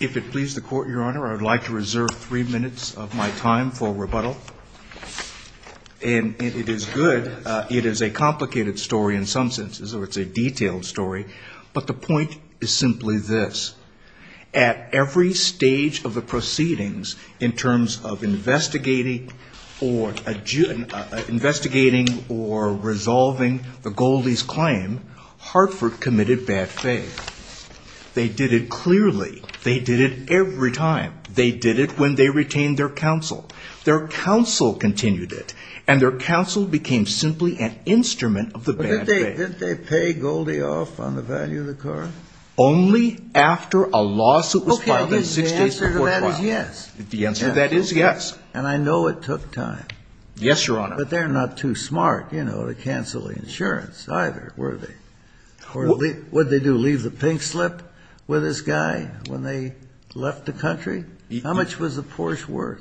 If it pleases the Court, Your Honor, I would like to reserve three minutes of my time for rebuttal. And it is good. It is a complicated story in some senses, or it's a detailed story. But the point is simply this. At every stage of the proceedings, in terms of investigating or resolving the Goldie's claim, Hartford committed bad faith. They did it clearly. They did it every time. They did it when they retained their counsel. Their counsel continued it. And their counsel became simply an instrument of the bad faith. But didn't they pay Goldie off on the value of the car? Only after a lawsuit was filed in six days before trial. Okay. The answer to that is yes. The answer to that is yes. And I know it took time. Yes, Your Honor. But they're not too smart, you know, to cancel the insurance either, were they? What did they do, leave the pink slip with this guy when they left the country? How much was the Porsche worth?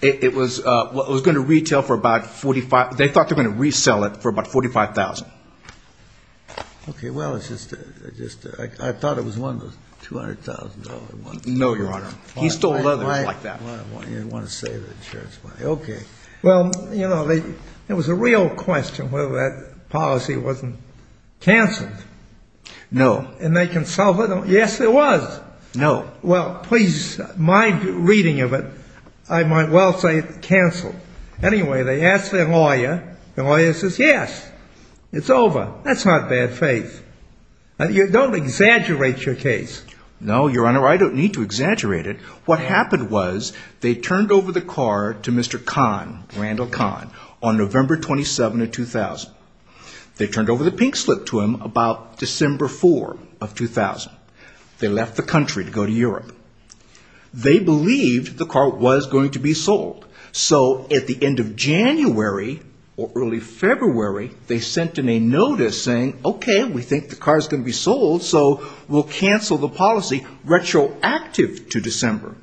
It was going to retail for about $45,000. They thought they were going to resell it for about $45,000. Okay. Well, I thought it was one of those $200,000 ones. No, Your Honor. He stole others like that. You didn't want to say the insurance money. Okay. Well, you know, there was a real question whether that policy wasn't canceled. No. And they consulted. Yes, there was. No. Well, please, my reading of it, I might well say it canceled. Anyway, they asked their lawyer. The lawyer says, yes, it's over. That's not bad faith. You don't exaggerate your case. No, Your Honor, I don't need to exaggerate it. What happened was they turned over the car to Mr. Kahn, Randall Kahn, on November 27 of 2000. They turned over the pink slip to him about December 4 of 2000. They left the country to go to Europe. They believed the car was going to be sold. So at the end of January or early February, they sent in a notice saying, Okay, we think the car is going to be sold, so we'll cancel the policy retroactive to December.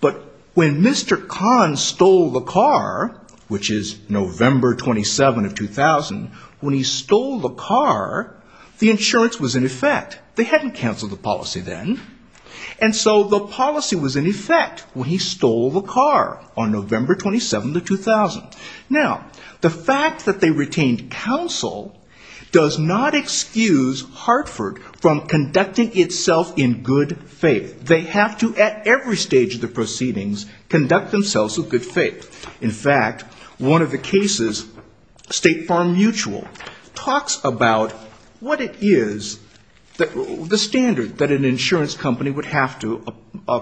But when Mr. Kahn stole the car, which is November 27 of 2000, when he stole the car, the insurance was in effect. They hadn't canceled the policy then. And so the policy was in effect when he stole the car on November 27 of 2000. Now, the fact that they retained counsel does not excuse Hartford from conducting itself in good faith. They have to, at every stage of the proceedings, conduct themselves with good faith. In fact, one of the cases, State Farm Mutual, talks about what it is, the standard that an insurance company would have to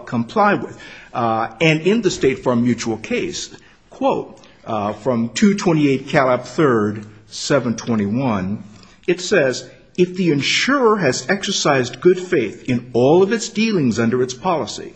comply with. And in the State Farm Mutual case, quote, from 228 Calab III, 721, it says, If the insurer has exercised good faith in all of its dealings under its policy,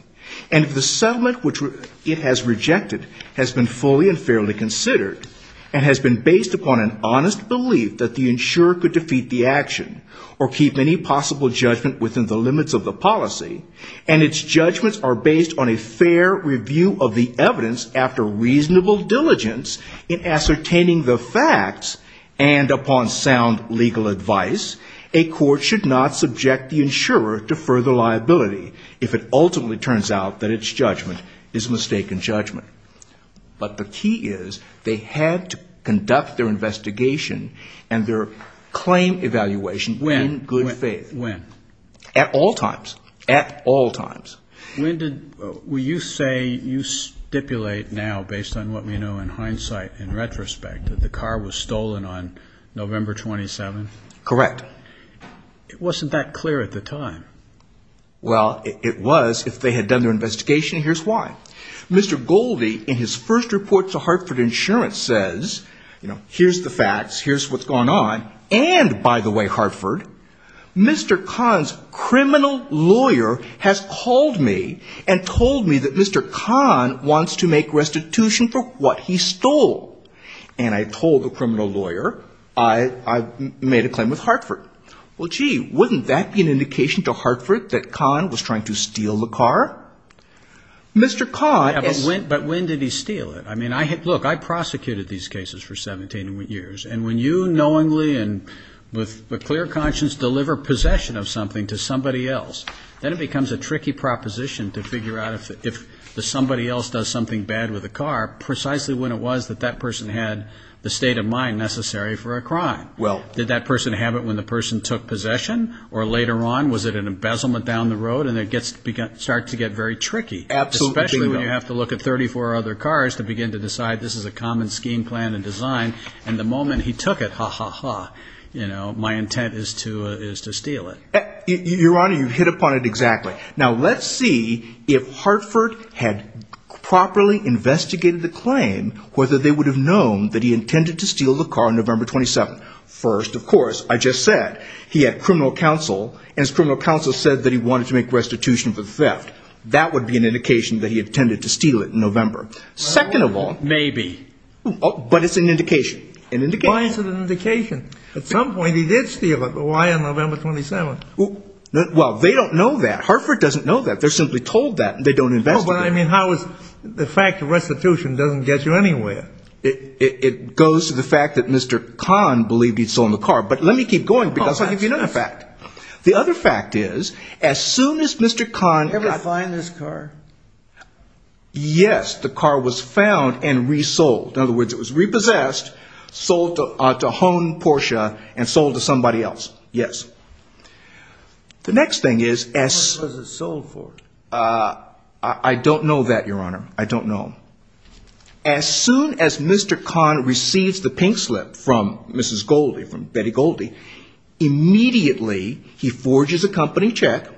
and if the settlement which it has rejected has been fully and fairly considered, and has been based upon an honest belief that the insurer could defeat the action or keep any possible judgment within the limits of the policy, and its judgments are based on a fair review of the evidence after reasonable diligence in ascertaining the facts, and upon sound legal advice, a court should not subject the insurer to further liability if it ultimately turns out that its judgment is mistaken judgment. But the key is they had to conduct their investigation and their claim evaluation in good faith. At when? At all times. At all times. When did you say you stipulate now, based on what we know in hindsight, in retrospect, that the car was stolen on November 27th? Correct. It wasn't that clear at the time. Well, it was if they had done their investigation, and here's why. Mr. Goldie, in his first report to Hartford Insurance, says, you know, here's the facts. Here's what's going on. And, by the way, Hartford, Mr. Kahn's criminal lawyer has called me and told me that Mr. Kahn wants to make restitution for what he stole. And I told the criminal lawyer I made a claim with Hartford. Well, gee, wouldn't that be an indication to Hartford that Kahn was trying to steal the car? Mr. Kahn is ---- But when did he steal it? I mean, look, I prosecuted these cases for 17 years. And when you knowingly and with a clear conscience deliver possession of something to somebody else, then it becomes a tricky proposition to figure out if somebody else does something bad with a car, precisely when it was that that person had the state of mind necessary for a crime. Well ---- Did that person have it when the person took possession? Or later on, was it an embezzlement down the road? And it starts to get very tricky. Absolutely. Especially when you have to look at 34 other cars to begin to decide this is a common scheme, plan, and design. And the moment he took it, ha, ha, ha, you know, my intent is to steal it. Your Honor, you hit upon it exactly. Now, let's see if Hartford had properly investigated the claim, whether they would have known that he intended to steal the car on November 27th. First, of course, I just said he had criminal counsel, and his criminal counsel said that he wanted to make restitution for the theft. That would be an indication that he intended to steal it in November. Second of all ---- Maybe. But it's an indication, an indication. Why is it an indication? At some point he did steal it, but why on November 27th? Well, they don't know that. Hartford doesn't know that. They're simply told that, and they don't investigate it. No, but I mean, how is the fact of restitution doesn't get you anywhere? It goes to the fact that Mr. Kahn believed he'd stolen the car. But let me keep going, because I'll give you another fact. The other fact is, as soon as Mr. Kahn ---- Ever find this car? Yes. The car was found and resold. In other words, it was repossessed, sold to Hohn Porsche, and sold to somebody else. Yes. The next thing is ---- What was it sold for? I don't know that, Your Honor. I don't know. As soon as Mr. Kahn receives the pink slip from Mrs. Goldie, from Betty Goldie, immediately he forges a company check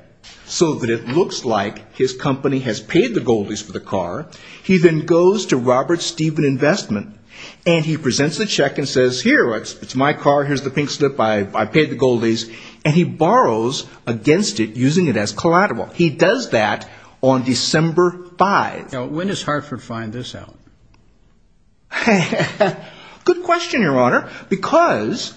so that it looks like his company has paid the Goldies for the car. He then goes to Robert Stephen Investment, and he presents the check and says, Here, it's my car. Here's the pink slip. I paid the Goldies. And he borrows against it, using it as collateral. He does that on December 5th. Now, when does Hartford find this out? Good question, Your Honor. Because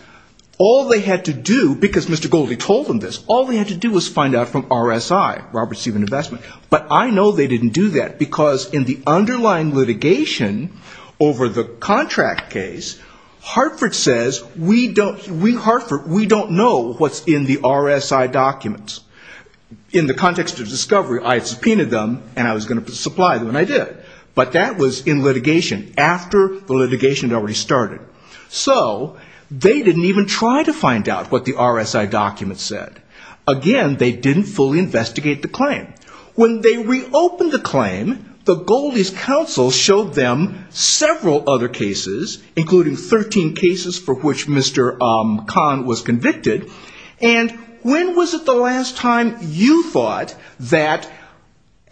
all they had to do, because Mr. Goldie told them this, all they had to do was find out from RSI, Robert Stephen Investment. But I know they didn't do that, because in the underlying litigation over the contract case, Hartford says, we don't know what's in the RSI documents. In the context of discovery, I had subpoenaed them, and I was going to supply them, and I did. But that was in litigation, after the litigation had already started. So they didn't even try to find out what the RSI documents said. Again, they didn't fully investigate the claim. When they reopened the claim, the Goldies' counsel showed them several other cases, including 13 cases for which Mr. Kahn was convicted. And when was it the last time you thought that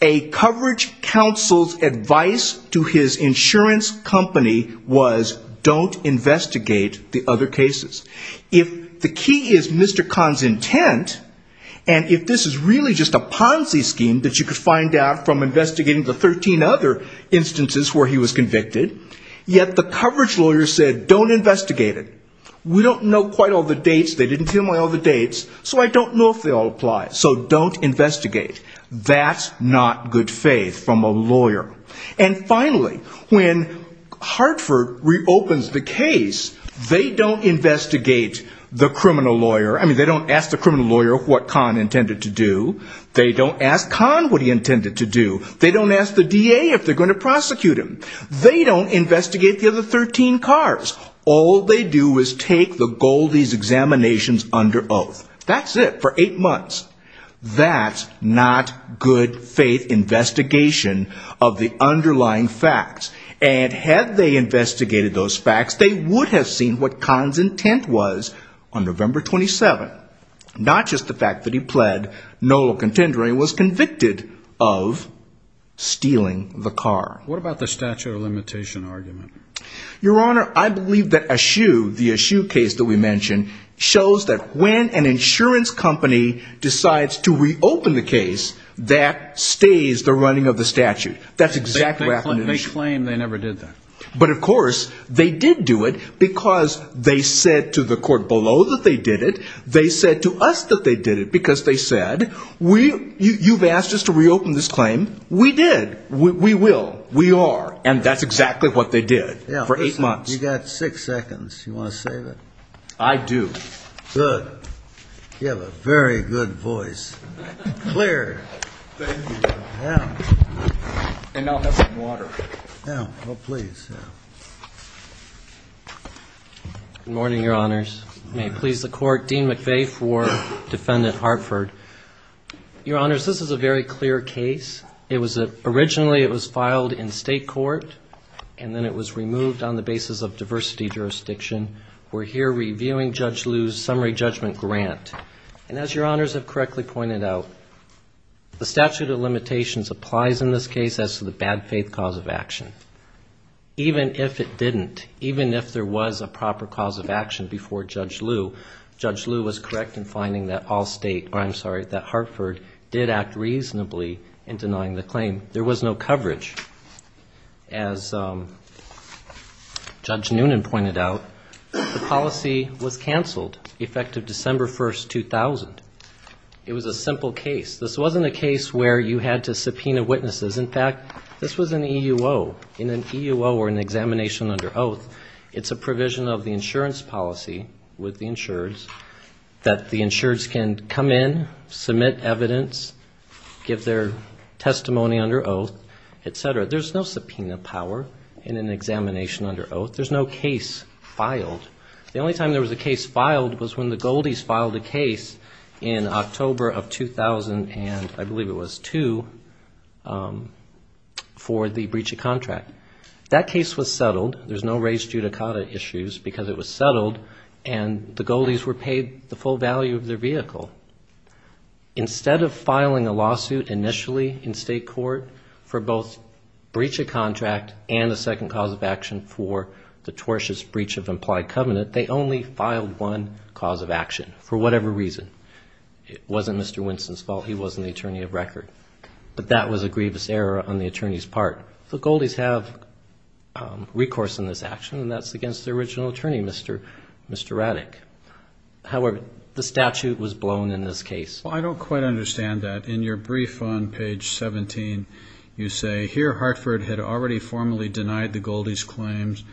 a coverage counsel's advice to his insurance company was don't investigate the other cases? If the key is Mr. Kahn's intent, and if this is really just a Ponzi scheme that you could find out from investigating the 13 other instances where he was convicted, yet the coverage lawyer said, don't investigate it. We don't know quite all the dates. They didn't tell me all the dates, so I don't know if they all apply. So don't investigate. That's not good faith from a lawyer. And finally, when Hartford reopens the case, they don't investigate the criminal lawyer. I mean, they don't ask the criminal lawyer what Kahn intended to do. They don't ask Kahn what he intended to do. They don't ask the DA if they're going to prosecute him. They don't investigate the other 13 cars. All they do is take the Goldies' examinations under oath. That's it for eight months. That's not good faith investigation of the underlying facts. And had they investigated those facts, they would have seen what Kahn's intent was on November 27th. Not just the fact that he pled no contendering and was convicted of stealing the car. What about the statute of limitation argument? Your Honor, I believe that Aschew, the Aschew case that we mentioned, shows that when an insurance company decides to reopen the case, that stays the running of the statute. That's exactly what happened in Aschew. They claim they never did that. But of course, they did do it because they said to the court below that they did it. They said to us that they did it because they said, you've asked us to reopen this claim. We did. We will. We are. And that's exactly what they did for eight months. You've got six seconds. You want to save it? I do. Good. You have a very good voice. Clear. Thank you, Your Honor. Yeah. And now have some water. Yeah. Oh, please. Good morning, Your Honors. May it please the Court. Dean McVeigh for Defendant Hartford. Your Honors, this is a very clear case. Originally, it was filed in state court, and then it was removed on the basis of diversity jurisdiction. We're here reviewing Judge Liu's summary judgment grant. And as Your Honors have correctly pointed out, the statute of limitations applies in this case as to the bad faith cause of action. Even if it didn't, even if there was a proper cause of action before Judge Liu, Judge Liu was correct in finding that Hartford did act reasonably in denying the claim. There was no coverage. As Judge Noonan pointed out, the policy was canceled effective December 1, 2000. It was a simple case. This wasn't a case where you had to subpoena witnesses. In fact, this was an EUO. In an EUO or an examination under oath, it's a provision of the insurance policy with the insureds that the insureds can come in, submit evidence, give their testimony under oath, et cetera. There's no subpoena power in an examination under oath. There's no case filed. The only time there was a case filed was when the Goldies filed a case in October of 2000 and I believe it was two for the breach of contract. That case was settled. There's no raised judicata issues because it was settled and the Goldies were paid the full value of their vehicle. Instead of filing a lawsuit initially in state court for both breach of contract and a second cause of action for the tortious breach of implied covenant, they only filed one cause of action for whatever reason. It wasn't Mr. Winston's fault. He wasn't the attorney of record. But that was a grievous error on the attorney's part. The Goldies have recourse in this action and that's against the original attorney, Mr. Ratick. However, the statute was blown in this case. Well, I don't quite understand that. In your brief on page 17, you say, Here Hartford had already formally denied the Goldies' claims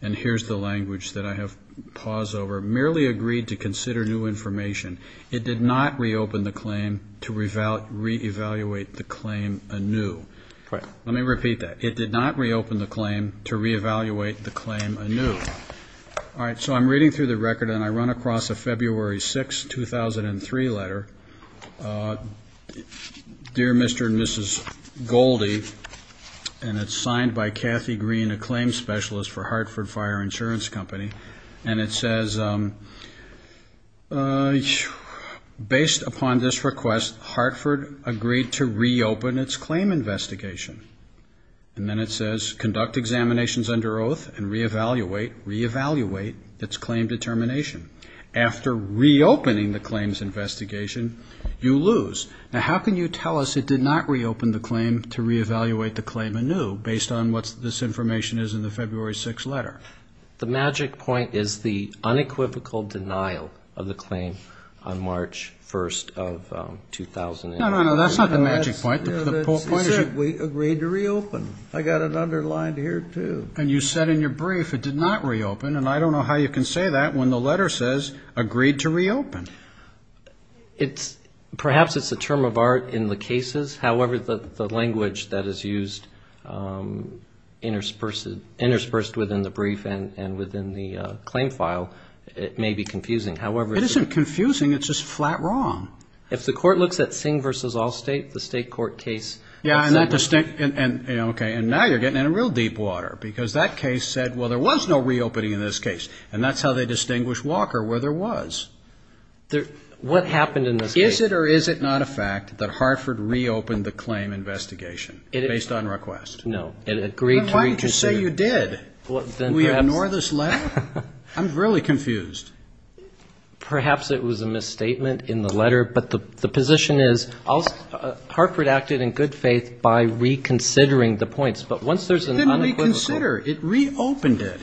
and here's the language that I have pause over. Merely agreed to consider new information. It did not reopen the claim to reevaluate the claim anew. Let me repeat that. It did not reopen the claim to reevaluate the claim anew. All right. So I'm reading through the record and I run across a February 6, 2003 letter. Dear Mr. and Mrs. Goldie. And it's signed by Kathy Green, a claim specialist for Hartford Fire Insurance Company. And it says, Based upon this request, Hartford agreed to reopen its claim investigation. And then it says, Conduct examinations under oath and reevaluate, reevaluate its claim determination. After reopening the claims investigation, you lose. Now, how can you tell us it did not reopen the claim to reevaluate the claim anew, based on what this information is in the February 6 letter? The magic point is the unequivocal denial of the claim on March 1, 2008. No, no, no. That's not the magic point. We agreed to reopen. I got it underlined here, too. And you said in your brief it did not reopen. And I don't know how you can say that when the letter says agreed to reopen. Perhaps it's a term of art in the cases. However, the language that is used interspersed within the brief and within the claim file may be confusing. It isn't confusing. It's just flat wrong. If the court looks at Singh v. Allstate, the state court case. Yeah. And now you're getting in real deep water because that case said, well, there was no reopening in this case. And that's how they distinguished Walker, where there was. What happened in this case? Is it or is it not a fact that Hartford reopened the claim investigation based on request? No. It agreed to reopen. Then why didn't you say you did? Did we ignore this letter? I'm really confused. Perhaps it was a misstatement in the letter. But the position is Hartford acted in good faith by reconsidering the points. But once there's an unequivocal. It didn't reconsider. It reopened it.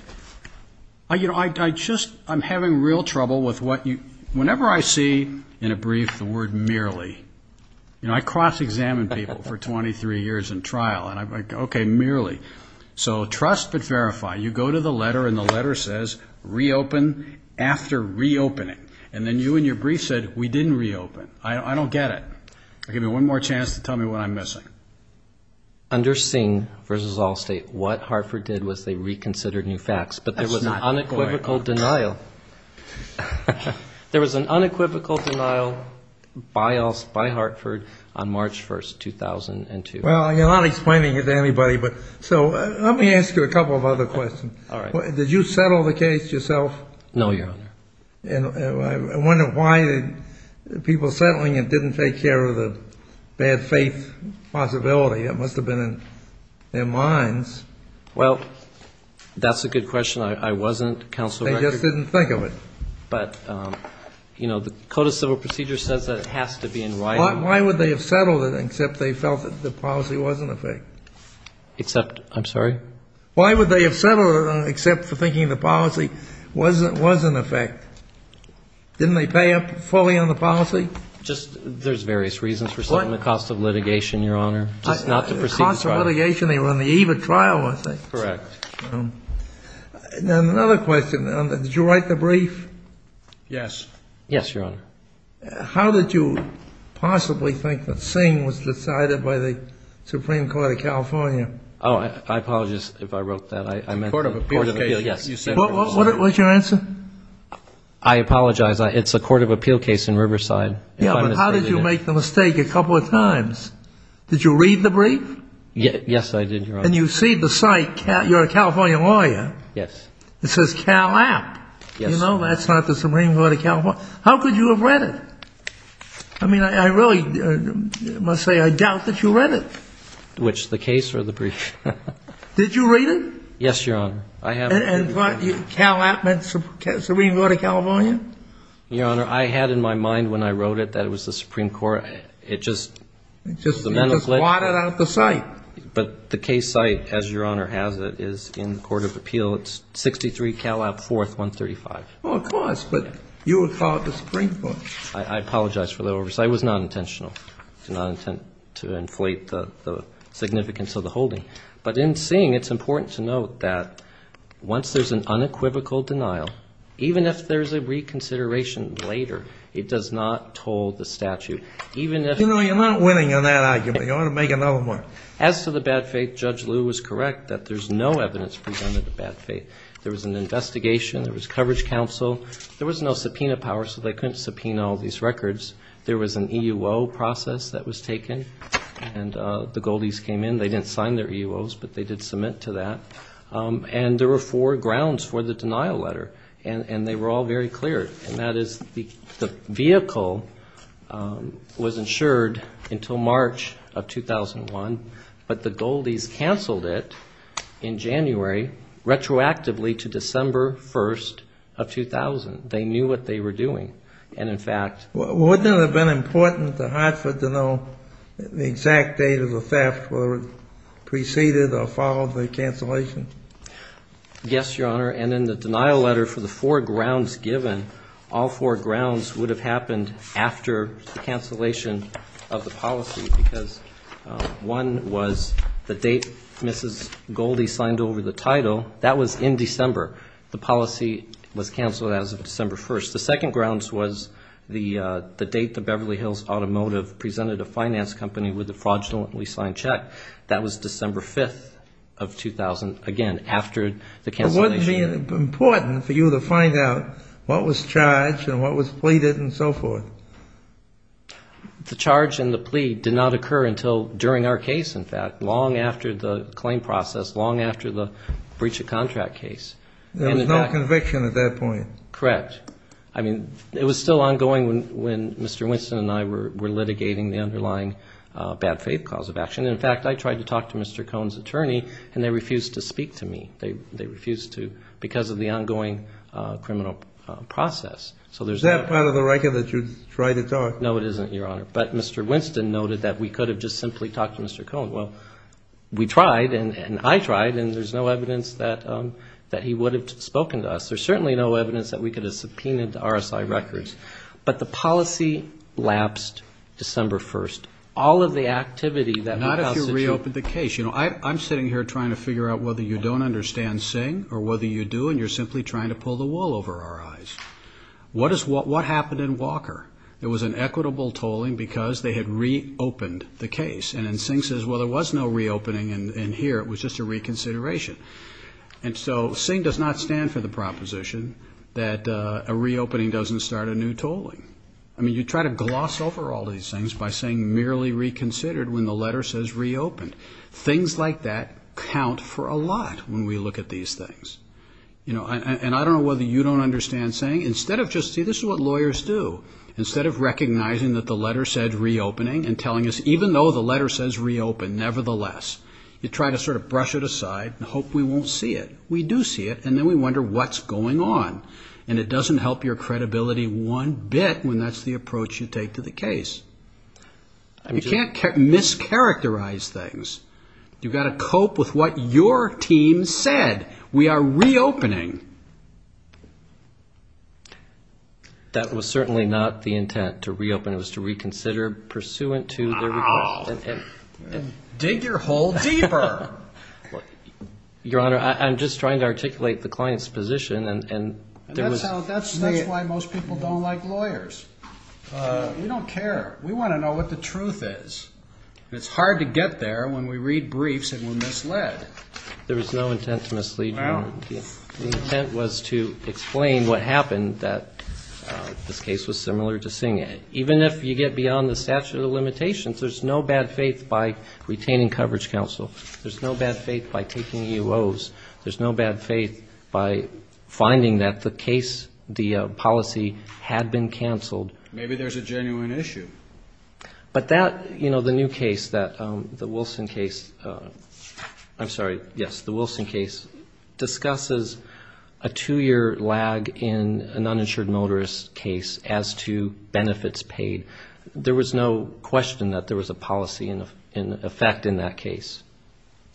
You know, I just I'm having real trouble with what you whenever I see in a brief the word merely. You know, I cross-examine people for 23 years in trial. And I'm like, OK, merely. So trust but verify. You go to the letter and the letter says reopen after reopening. And then you and your brief said we didn't reopen. I don't get it. Give me one more chance to tell me what I'm missing. Under Singh versus Allstate, what Hartford did was they reconsidered new facts. But there was an unequivocal denial. There was an unequivocal denial by Hartford on March 1st, 2002. Well, you're not explaining it to anybody. So let me ask you a couple of other questions. All right. Did you settle the case yourself? No, Your Honor. I wonder why the people settling it didn't take care of the bad faith possibility. It must have been in their minds. Well, that's a good question. I wasn't, Counselor. They just didn't think of it. But, you know, the Code of Civil Procedure says that it has to be in writing. Why would they have settled it except they felt that the policy was in effect? Except? I'm sorry? Why would they have settled it except for thinking the policy was in effect? Didn't they pay up fully on the policy? Just there's various reasons for setting the cost of litigation, Your Honor. Just not to proceed with trial. The cost of litigation. They were on the eve of trial, weren't they? Correct. Then another question. Did you write the brief? Yes. Yes, Your Honor. How did you possibly think that Singh was decided by the Supreme Court of California? Oh, I apologize if I wrote that. Court of Appeal. Yes. What's your answer? I apologize. It's a Court of Appeal case in Riverside. Yeah, but how did you make the mistake a couple of times? Did you read the brief? Yes, I did, Your Honor. And you see the site, you're a California lawyer. Yes. It says Cal App. Yes. You know, that's not the Supreme Court of California. How could you have read it? I mean, I really must say I doubt that you read it. Which, the case or the brief? Did you read it? Yes, Your Honor. I have. And what, Cal App meant Supreme Court of California? Your Honor, I had in my mind when I wrote it that it was the Supreme Court. It just, the mental glitch. It just blotted out the site. But the case site, as Your Honor has it, is in the Court of Appeal. It's 63 Cal App. 4th, 135. Well, of course. But you would call it the Supreme Court. I apologize for the oversight. It was non-intentional. It was non-intent to inflate the significance of the holding. But in seeing, it's important to note that once there's an unequivocal denial, even if there's a reconsideration later, it does not toll the statute. Even if... You know, you're not winning on that argument. You ought to make another one. As to the bad faith, Judge Lew is correct that there's no evidence presented of bad faith. There was an investigation. There was coverage counsel. There was no subpoena power, so they couldn't subpoena all these records. There was an EUO process that was taken, and the Goldies came in. They didn't sign their EUOs, but they did submit to that. And there were four grounds for the denial letter, and they were all very clear, and that is the vehicle was insured until March of 2001, but the Goldies canceled it in January retroactively to December 1st of 2000. They knew what they were doing, and in fact... Wouldn't it have been important to Hartford to know the exact date of the theft whether it preceded or followed the cancellation? Yes, Your Honor, and in the denial letter for the four grounds given, all four grounds would have happened after the cancellation of the policy because one was the date Mrs. Goldie signed over the title. That was in December. The policy was canceled as of December 1st. The second grounds was the date the Beverly Hills Automotive presented a finance company with a fraudulently signed check. That was December 5th of 2000, again, after the cancellation. But wouldn't it have been important for you to find out what was charged and what was pleaded and so forth? The charge and the plea did not occur until during our case, in fact, long after the claim process, long after the breach of contract case. There was no conviction at that point. Correct. I mean, it was still ongoing when Mr. Winston and I were litigating the underlying bad faith cause of action. In fact, I tried to talk to Mr. Cone's attorney, and they refused to speak to me. They refused to because of the ongoing criminal process. Is that part of the record, that you try to talk? No, it isn't, Your Honor. But Mr. Winston noted that we could have just simply talked to Mr. Cone. Well, we tried, and I tried, and there's no evidence that he would have spoken to us. There's certainly no evidence that we could have subpoenaed RSI records. But the policy lapsed December 1st. All of the activity that we constitute. Not if you reopened the case. You know, I'm sitting here trying to figure out whether you don't understand Singh or whether you do, and you're simply trying to pull the wool over our eyes. What happened in Walker? It was an equitable tolling because they had reopened the case. And then Singh says, well, there was no reopening in here. It was just a reconsideration. And so Singh does not stand for the proposition that a reopening doesn't start a new tolling. I mean, you try to gloss over all these things by saying merely reconsidered when the letter says reopened. Things like that count for a lot when we look at these things. You know, and I don't know whether you don't understand Singh. Instead of just, see, this is what lawyers do. Instead of recognizing that the letter said reopening and telling us even though the letter says reopen, nevertheless, you try to sort of brush it aside and hope we won't see it. We do see it, and then we wonder what's going on. And it doesn't help your credibility one bit when that's the approach you take to the case. You can't mischaracterize things. You've got to cope with what your team said. We are reopening. That was certainly not the intent to reopen. It was to reconsider pursuant to their request. Dig your hole deeper. Your Honor, I'm just trying to articulate the client's position. That's why most people don't like lawyers. We don't care. We want to know what the truth is. And it's hard to get there when we read briefs and we're misled. There was no intent to mislead you, Your Honor. The intent was to explain what happened, that this case was similar to Singh. Even if you get beyond the statute of limitations, there's no bad faith by retaining coverage counsel. There's no bad faith by taking UOs. There's no bad faith by finding that the case, the policy had been canceled. Maybe there's a genuine issue. But that, you know, the new case, the Wilson case, I'm sorry, yes, the Wilson case, discusses a two-year lag in an uninsured motorist case as to benefits paid. There was no question that there was a policy in effect in that case.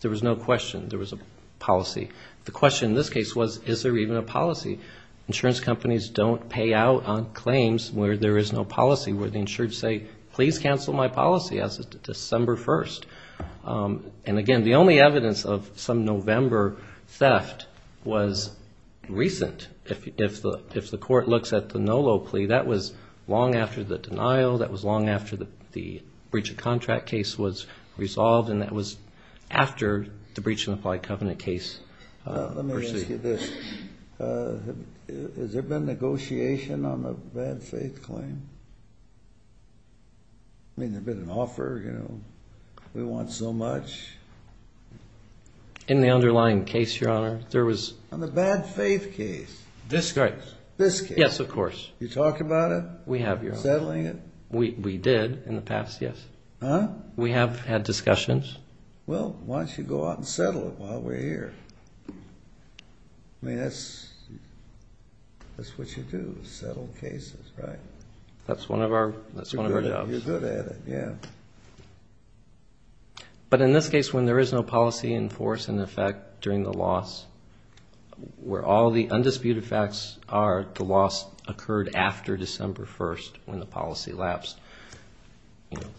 There was no question. There was a policy. The question in this case was, is there even a policy? Insurance companies don't pay out on claims where there is no policy, where the insured say, please cancel my policy as of December 1st. And, again, the only evidence of some November theft was recent. If the court looks at the Nolo plea, that was long after the denial, that was long after the breach of contract case was resolved, and that was after the breach of implied covenant case. Let me ask you this. Has there been negotiation on a bad faith claim? I mean, has there been an offer, you know, we want so much? In the underlying case, Your Honor, there was. On the bad faith case. This case. This case. Yes, of course. You talked about it? We have, Your Honor. Settling it? We did in the past, yes. Huh? We have had discussions. Well, why don't you go out and settle it while we're here? I mean, that's what you do, settle cases, right? That's one of our jobs. You're good at it, yeah. But in this case, when there is no policy in force, in effect, during the loss, where all the undisputed facts are, the loss occurred after December 1st, when the policy lapsed.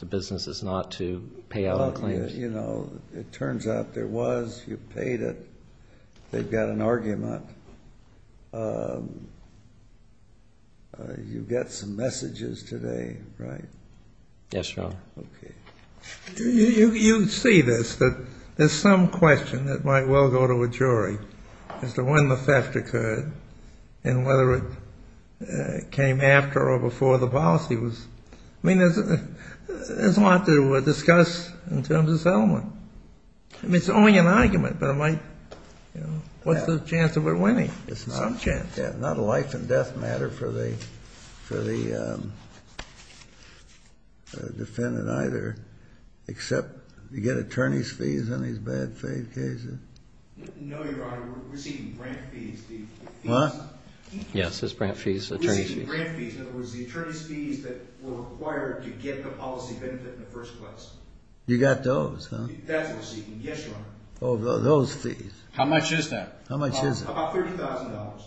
The business is not to pay out claims. Well, you know, it turns out there was. You paid it. They've got an argument. You've got some messages today, right? Yes, Your Honor. Okay. You see this, that there's some question that might well go to a jury as to when the theft occurred and whether it came after or before the policy was. I mean, there's a lot to discuss in terms of settlement. I mean, it's only an argument, but it might, you know, what's the chance of it winning? Some chance. Not a life and death matter for the defendant either, except you get attorney's fees on these bad faith cases. No, Your Honor. We're receiving grant fees. Yes, it's grant fees, attorney's fees. Grant fees, in other words, the attorney's fees that were required to get the policy benefit in the first place. You got those, huh? That's what we're seeking, yes, Your Honor. Oh, those fees. How much is that? How much is it? About $30,000.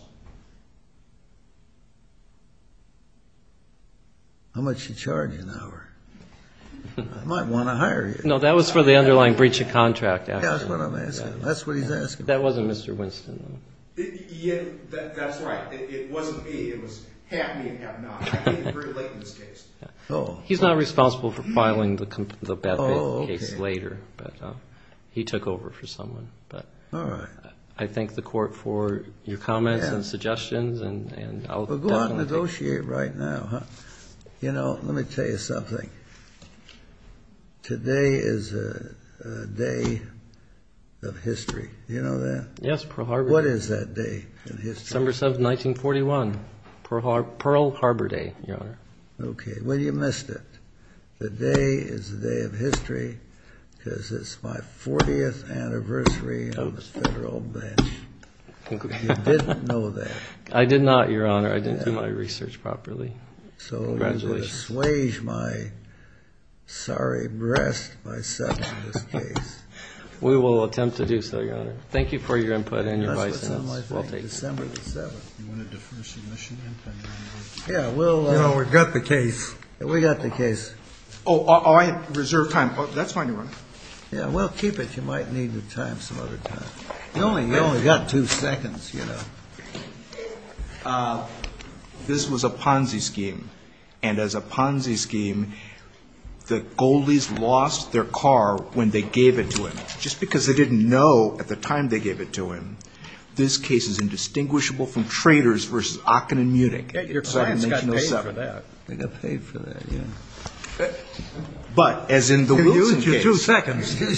How much do you charge an hour? I might want to hire you. No, that was for the underlying breach of contract. That's what I'm asking. That's what he's asking. That wasn't Mr. Winston, though. That's right. It wasn't me. It was half me and half not. I came in very late in this case. He's not responsible for filing the bad faith case later, but he took over for someone. All right. I thank the Court for your comments and suggestions, and I'll definitely take it. Well, go on and negotiate right now, huh? You know, let me tell you something. Today is a day of history. Do you know that? Yes, Pearl Harbor Day. What is that day in history? December 7, 1941, Pearl Harbor Day, Your Honor. Okay. Well, you missed it. Today is a day of history because it's my 40th anniversary on the Federal bench. You didn't know that. I did not, Your Honor. I didn't do my research properly. Congratulations. I'm going to swage my sorry breast myself in this case. We will attempt to do so, Your Honor. Thank you for your input and your advice, and we'll take it. That's what's on my thing, December 7th. You want to defer submission? No, we've got the case. We've got the case. Oh, I reserve time. That's fine, Your Honor. Yeah, well, keep it. You might need the time some other time. You've only got two seconds, you know. This was a Ponzi scheme, and as a Ponzi scheme, the Goldies lost their car when they gave it to him. Just because they didn't know at the time they gave it to him, this case is indistinguishable from traitors versus Aachen and Munich. Yeah, your clients got paid for that. They got paid for that, yeah. But as in the Wilson case. You used your two seconds. Yeah,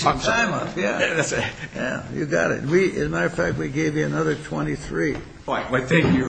you got it. As a matter of fact, we gave you another 23. All right, well, thank you.